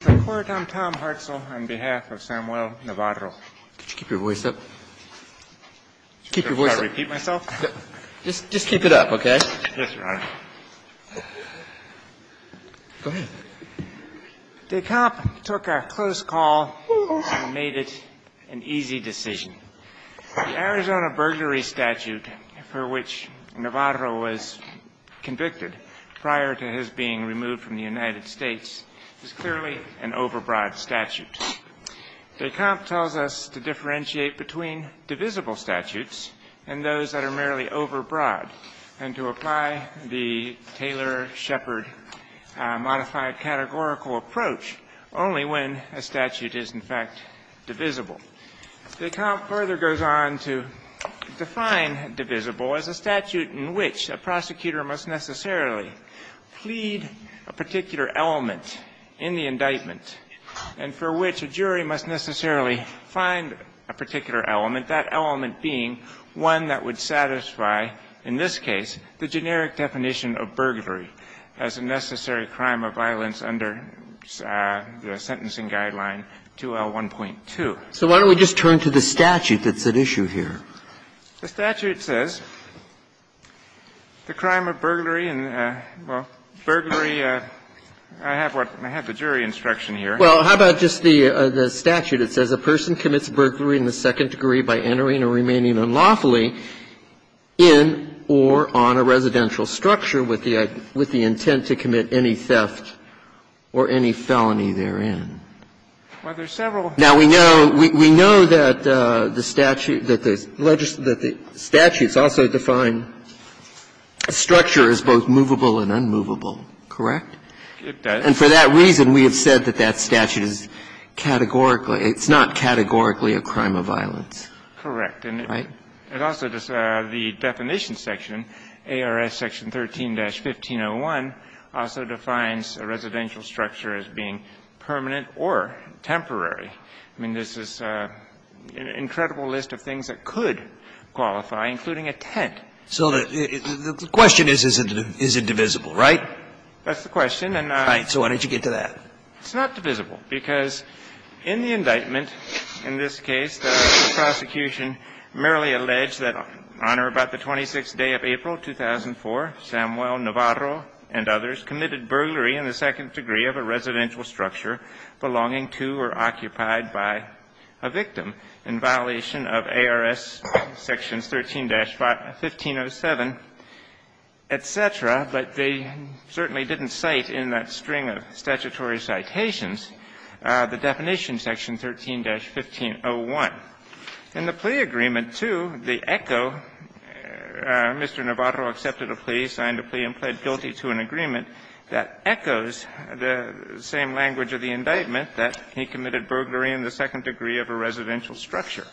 The Court on Tom Hartzell, on behalf of Samuel Navarro. Could you keep your voice up? Should I try to repeat myself? Just keep it up, okay? Yes, Your Honor. Go ahead. DeKalb took a close call and made it an easy decision. The Arizona burglary statute for which Navarro was convicted prior to his being removed from the United States is clearly an overbroad statute. DeKalb tells us to differentiate between divisible statutes and those that are merely overbroad and to apply the Taylor-Shepard modified categorical approach only when a statute is, in fact, divisible. DeKalb further goes on to define divisible as a statute in which a prosecutor must necessarily plead a particular element in the indictment and for which a jury must necessarily find a particular element, that element being one that would satisfy, in this case, the generic definition of burglary as a necessary crime of violence under the Sentencing Guideline 2L1.2. Roberts, So why don't we just turn to the statute that's at issue here? The statute says the crime of burglary and, well, burglary, I have what, I have the jury instruction here. Well, how about just the statute? It says a person commits burglary in the second degree by entering or remaining unlawfully in or on a residential structure with the intent to commit any theft or any felony therein. Well, there's several. Now, we know, we know that the statute, that the statutes also define a structure as both movable and unmovable, correct? It does. And for that reason, we have said that that statute is categorically, it's not categorically a crime of violence. Correct. And it also, the definition section, ARS Section 13-1501, also defines a residential structure as being permanent or temporary. I mean, this is an incredible list of things that could qualify, including a tent. So the question is, is it divisible, right? That's the question. And I So why don't you get to that? It's not divisible, because in the indictment, in this case, the prosecution merely alleged that on or about the 26th day of April, 2004, Samuel Navarro and others committed burglary in the second degree of a residential structure belonging to or occupied by a victim in violation of ARS Sections 13-1507, et cetera. But they certainly didn't cite in that string of statutory citations the definition Section 13-1501. In the plea agreement, too, the echo, Mr. Navarro accepted a plea, signed a plea and pled guilty to an agreement that echoes the same language of the indictment, that he committed burglary in the second degree of a residential structure.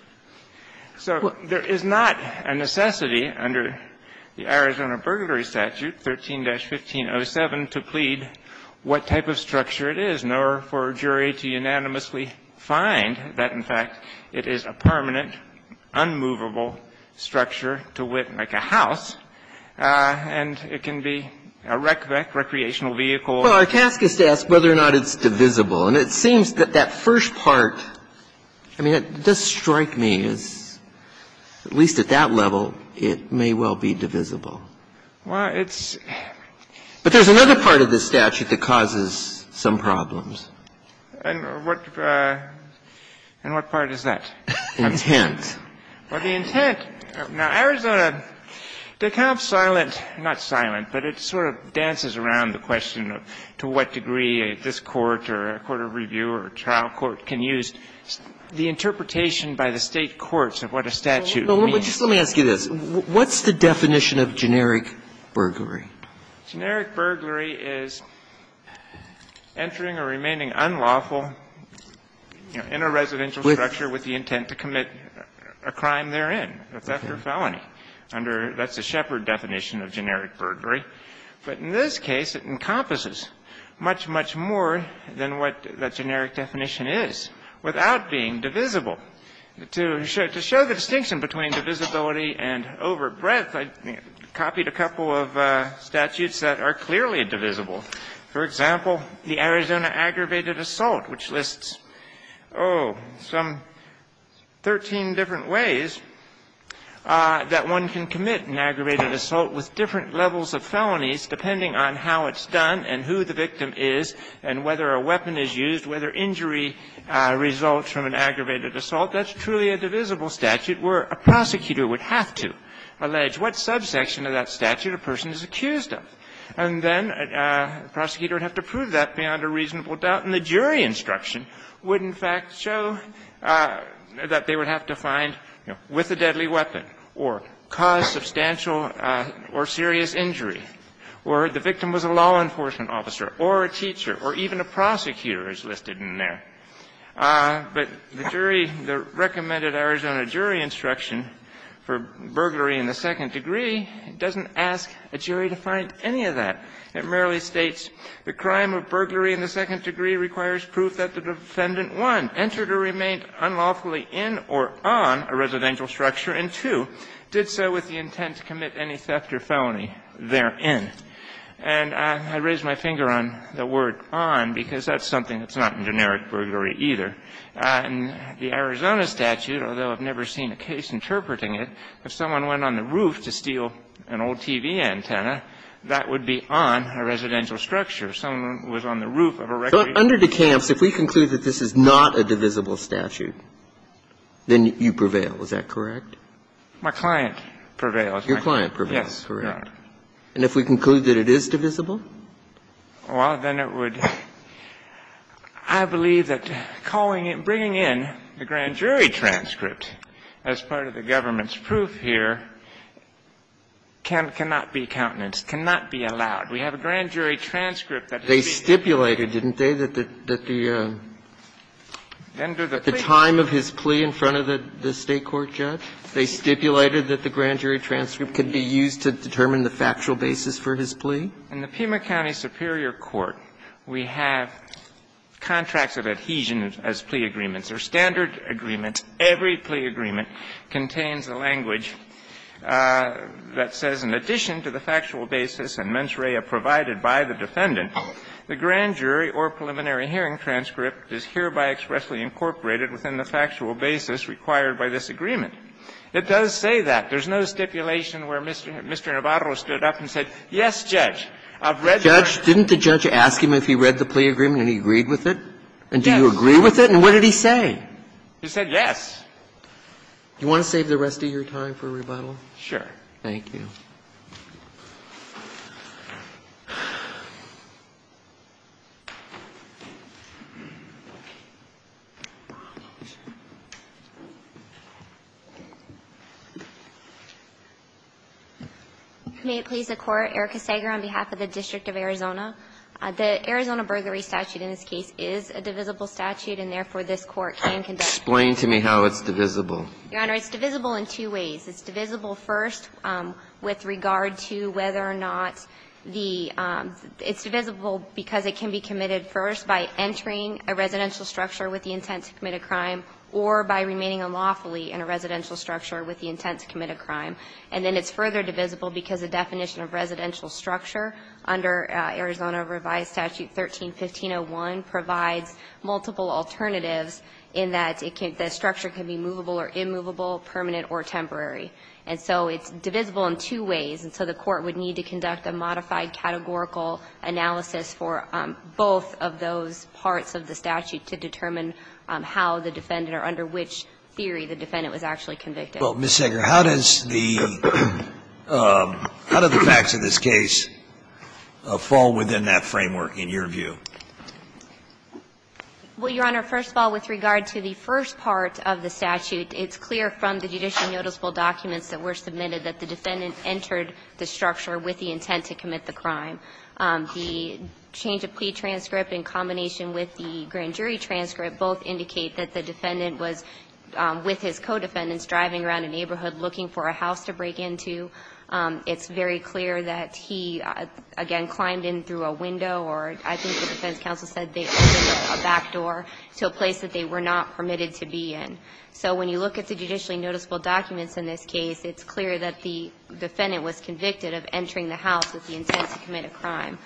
So there is not a necessity under the Arizona burglary statute, 13-1507, to plead what type of structure it is, nor for a jury to unanimously find that, in fact, it is a permanent, unmovable structure to wit, like a house, and it can be a rec, recreational vehicle. Well, our task is to ask whether or not it's divisible, and it seems that that first part, I mean, it does strike me as, at least at that level, it may well be divisible. Well, it's But there's another part of the statute that causes some problems. And what part is that? Intent. Well, the intent of Arizona, they're kind of silent, not silent, but it sort of dances around the question of to what degree this court or a court of review or a trial court can use the interpretation by the State courts of what a statute means. Well, just let me ask you this. What's the definition of generic burglary? Generic burglary is entering or remaining unlawful in a residential structure with the intent to commit a crime therein. That's after a felony. Under the Shepard definition of generic burglary. But in this case, it encompasses much, much more than what that generic definition is, without being divisible. To show the distinction between divisibility and over breadth, I copied a couple of statutes that are clearly divisible. For example, the Arizona aggravated assault, which lists, oh, some 13 different ways that one can commit an aggravated assault with different levels of felonies depending on how it's done and who the victim is and whether a weapon is used, whether injury results from an aggravated assault. That's truly a divisible statute where a prosecutor would have to allege what subsection of that statute a person is accused of. And then a prosecutor would have to prove that beyond a reasonable doubt. And the jury instruction would, in fact, show that they would have to find, you know, with a deadly weapon or cause substantial or serious injury or the victim was a law enforcement officer or a teacher or even a prosecutor is listed in there. But the jury, the recommended Arizona jury instruction for burglary in the second degree doesn't ask a jury to find any of that. It merely states the crime of burglary in the second degree requires proof that the defendant, one, entered or remained unlawfully in or on a residential structure and, two, did so with the intent to commit any theft or felony therein. And I raise my finger on the word on because that's something that's not in generic burglary either. In the Arizona statute, although I've never seen a case interpreting it, if someone went on the roof to steal an old TV antenna, that would be on a residential structure. If someone was on the roof of a recreation room. Breyer. So under DeCamps, if we conclude that this is not a divisible statute, then you prevail. Is that correct? My client prevails. Your client prevails. Yes, Your Honor. Correct. And if we conclude that it is divisible? Well, then it would – I believe that calling it – bringing in the grand jury transcript as part of the government's proof here cannot be countenance, cannot be allowed. We have a grand jury transcript that would be – They stipulated, didn't they, that the – that the time of his plea in front of the State court judge, they stipulated that the grand jury transcript could be used to determine the factual basis for his plea? In the Pima County Superior Court, we have contracts of adhesion as plea agreements. They're standard agreements. Every plea agreement contains a language that says, In addition to the factual basis and mens rea provided by the defendant, the grand jury or preliminary hearing transcript is hereby expressly incorporated within the factual basis required by this agreement. It does say that. There's no stipulation where Mr. Navarro stood up and said, yes, Judge, I've read that. Didn't the judge ask him if he read the plea agreement and he agreed with it? Yes. And do you agree with it? And what did he say? He said, yes. Do you want to save the rest of your time for rebuttal? Sure. Thank you. May it please the Court. Erica Sager on behalf of the District of Arizona. The Arizona burglary statute in this case is a divisible statute, and therefore this Court can conduct. Explain to me how it's divisible. Your Honor, it's divisible in two ways. It's divisible first with regard to whether or not the – it's divisible because it can be committed first by entering a residential structure with the intent to commit a crime or by remaining unlawfully in a residential structure with the intent to commit a crime. And then it's further divisible because the definition of residential structure under Arizona revised statute 13-1501 provides multiple alternatives in that it can – the structure can be movable or immovable, permanent or temporary. And so it's divisible in two ways. And so the Court would need to conduct a modified categorical analysis for both of those parts of the statute to determine how the defendant or under which theory the defendant was actually convicted. Well, Ms. Sager, how does the – how do the facts of this case fall within that framework in your view? Well, Your Honor, first of all, with regard to the first part of the statute, it's clear from the judicial noticeable documents that were submitted that the defendant entered the structure with the intent to commit the crime. The change of plea transcript in combination with the grand jury transcript both indicate that the defendant was, with his co-defendants, driving around a neighborhood looking for a house to break into. It's very clear that he, again, climbed in through a window or I think the defense counsel said they opened a back door to a place that they were not permitted to be in. So when you look at the judicially noticeable documents in this case, it's clear that the defendant was convicted of entering the house with the intent to commit a crime.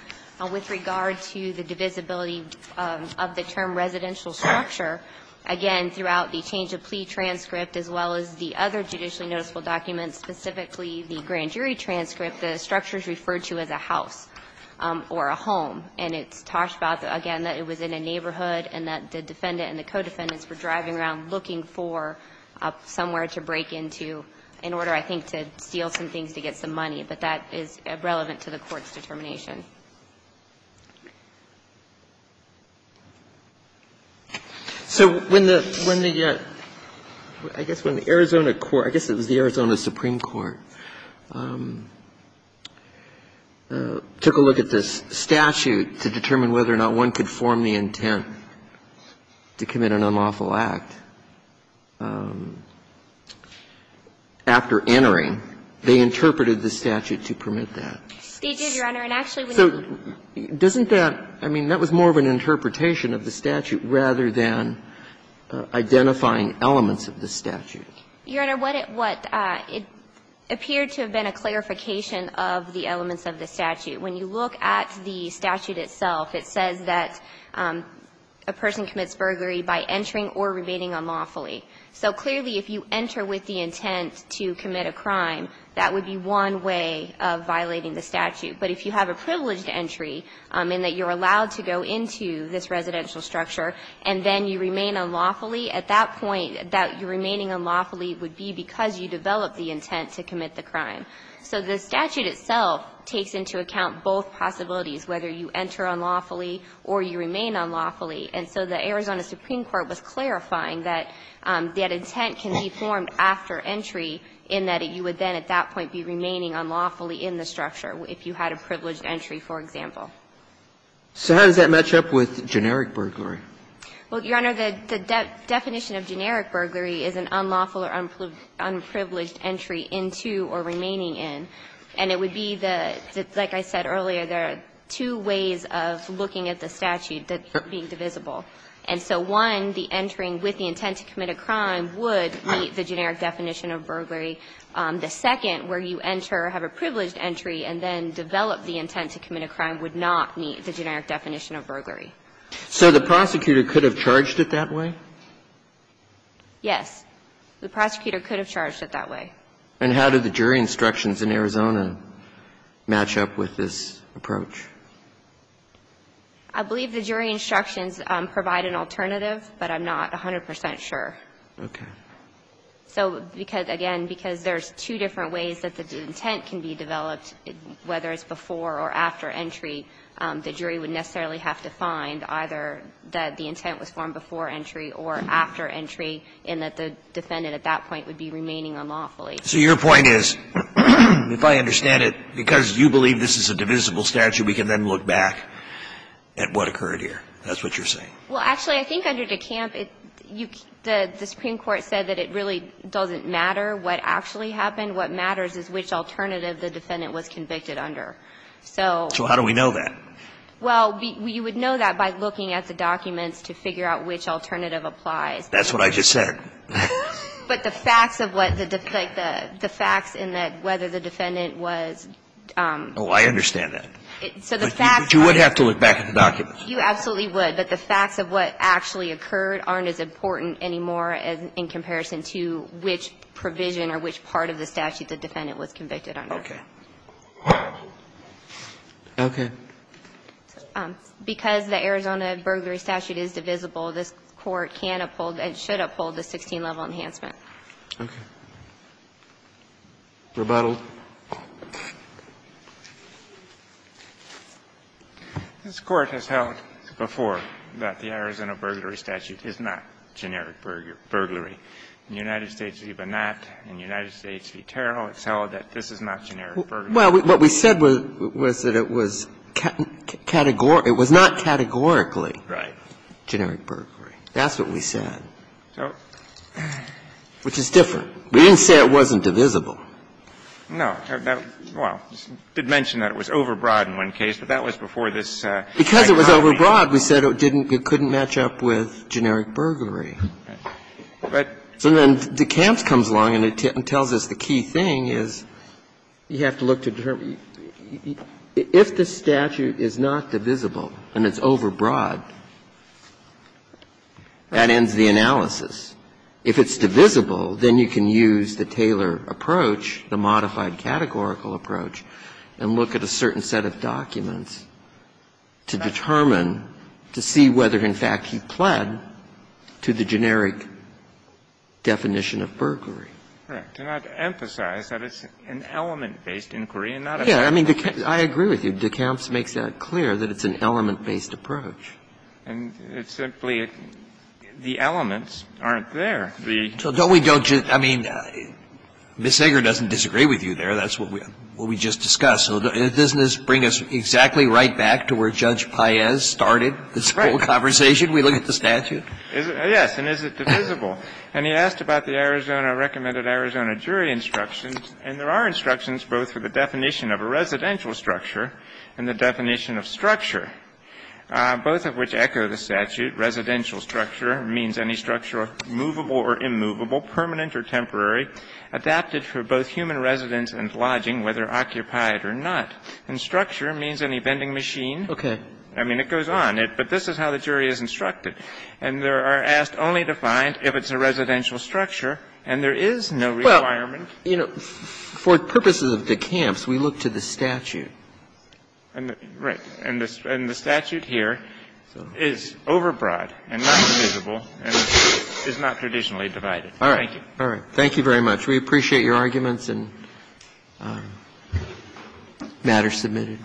With regard to the divisibility of the term residential structure, again, throughout the change of plea transcript as well as the other judicially noticeable documents, specifically the grand jury transcript, the structure is referred to as a house or a home. And it's talked about, again, that it was in a neighborhood and that the defendant and the co-defendants were driving around looking for somewhere to break into in order, I think, to steal some things to get some money. But that is relevant to the Court's determination. So when the – I guess when the Arizona court – I guess it was the Arizona supreme court took a look at this statute to determine whether or not one could form the intent to commit an unlawful act after entering, they interpreted the statute to permit that. So doesn't that – I mean, that was more of an interpretation of the statute rather than identifying elements of the statute. Your Honor, what it – it appeared to have been a clarification of the elements of the statute. When you look at the statute itself, it says that a person commits burglary by entering or remaining unlawfully. So clearly, if you enter with the intent to commit a crime, that would be one way of entering the statute. But if you have a privileged entry in that you're allowed to go into this residential structure and then you remain unlawfully, at that point, that you remaining unlawfully would be because you developed the intent to commit the crime. So the statute itself takes into account both possibilities, whether you enter unlawfully or you remain unlawfully. And so the Arizona supreme court was clarifying that that intent can be formed after entry in that you would then, at that point, be remaining unlawfully in the structure if you had a privileged entry, for example. So how does that match up with generic burglary? Well, Your Honor, the definition of generic burglary is an unlawful or unprivileged entry into or remaining in. And it would be the – like I said earlier, there are two ways of looking at the statute that are being divisible. And so, one, the entering with the intent to commit a crime would meet the generic definition of burglary. The second, where you enter, have a privileged entry, and then develop the intent to commit a crime would not meet the generic definition of burglary. So the prosecutor could have charged it that way? Yes. The prosecutor could have charged it that way. And how did the jury instructions in Arizona match up with this approach? I believe the jury instructions provide an alternative, but I'm not 100 percent sure. Okay. So because, again, because there's two different ways that the intent can be developed, whether it's before or after entry, the jury would necessarily have to find either that the intent was formed before entry or after entry, and that the defendant at that point would be remaining unlawfully. So your point is, if I understand it, because you believe this is a divisible statute, we can then look back at what occurred here. That's what you're saying. Well, actually, I think under DeCamp, the Supreme Court said that it really doesn't matter what actually happened. What matters is which alternative the defendant was convicted under. So how do we know that? Well, you would know that by looking at the documents to figure out which alternative applies. That's what I just said. But the facts of what the defendant, the facts in that whether the defendant was Oh, I understand that. So the facts But you would have to look back at the documents. You absolutely would. But the facts of what actually occurred aren't as important anymore as in comparison to which provision or which part of the statute the defendant was convicted under. Okay. Okay. Because the Arizona burglary statute is divisible, this Court can uphold and should uphold the 16-level enhancement. Okay. Rebuttal. This Court has held before that the Arizona burglary statute is not generic burglary. In the United States v. Bonat, in the United States v. Terrell, it's held that this is not generic burglary. Well, what we said was that it was categorical. It was not categorically generic burglary. That's what we said. So. Which is different. We didn't say it wasn't divisible. No. Well, you did mention that it was overbroad in one case, but that was before this case. Because it was overbroad, we said it couldn't match up with generic burglary. But. So then DeKalb comes along and tells us the key thing is you have to look to determine if the statute is not divisible and it's overbroad, that ends the analysis. If it's divisible, then you can use the Taylor approach, the modified categorical approach, and look at a certain set of documents to determine, to see whether, in fact, you pled to the generic definition of burglary. Correct. To not emphasize that it's an element-based inquiry and not a generic. Yes. I mean, I agree with you. DeKalb makes that clear, that it's an element-based approach. And it's simply the elements aren't there. So don't we don't just – I mean, Ms. Zegar doesn't disagree with you there. That's what we just discussed. So doesn't this bring us exactly right back to where Judge Paez started this whole conversation? We look at the statute? Yes. And is it divisible? And he asked about the Arizona – recommended Arizona jury instructions. And there are instructions both for the definition of a residential structure and the definition of structure. Both of which echo the statute. Residential structure means any structure movable or immovable, permanent or temporary, adapted for both human residence and lodging, whether occupied or not. And structure means any vending machine. Okay. I mean, it goes on. But this is how the jury is instructed. And there are asked only to find if it's a residential structure, and there is no requirement. Well, you know, for purposes of DeKalb's, we look to the statute. And the statute here is overbroad and not divisible and is not traditionally divided. Thank you. All right. Thank you very much. We appreciate your arguments and matters submitted.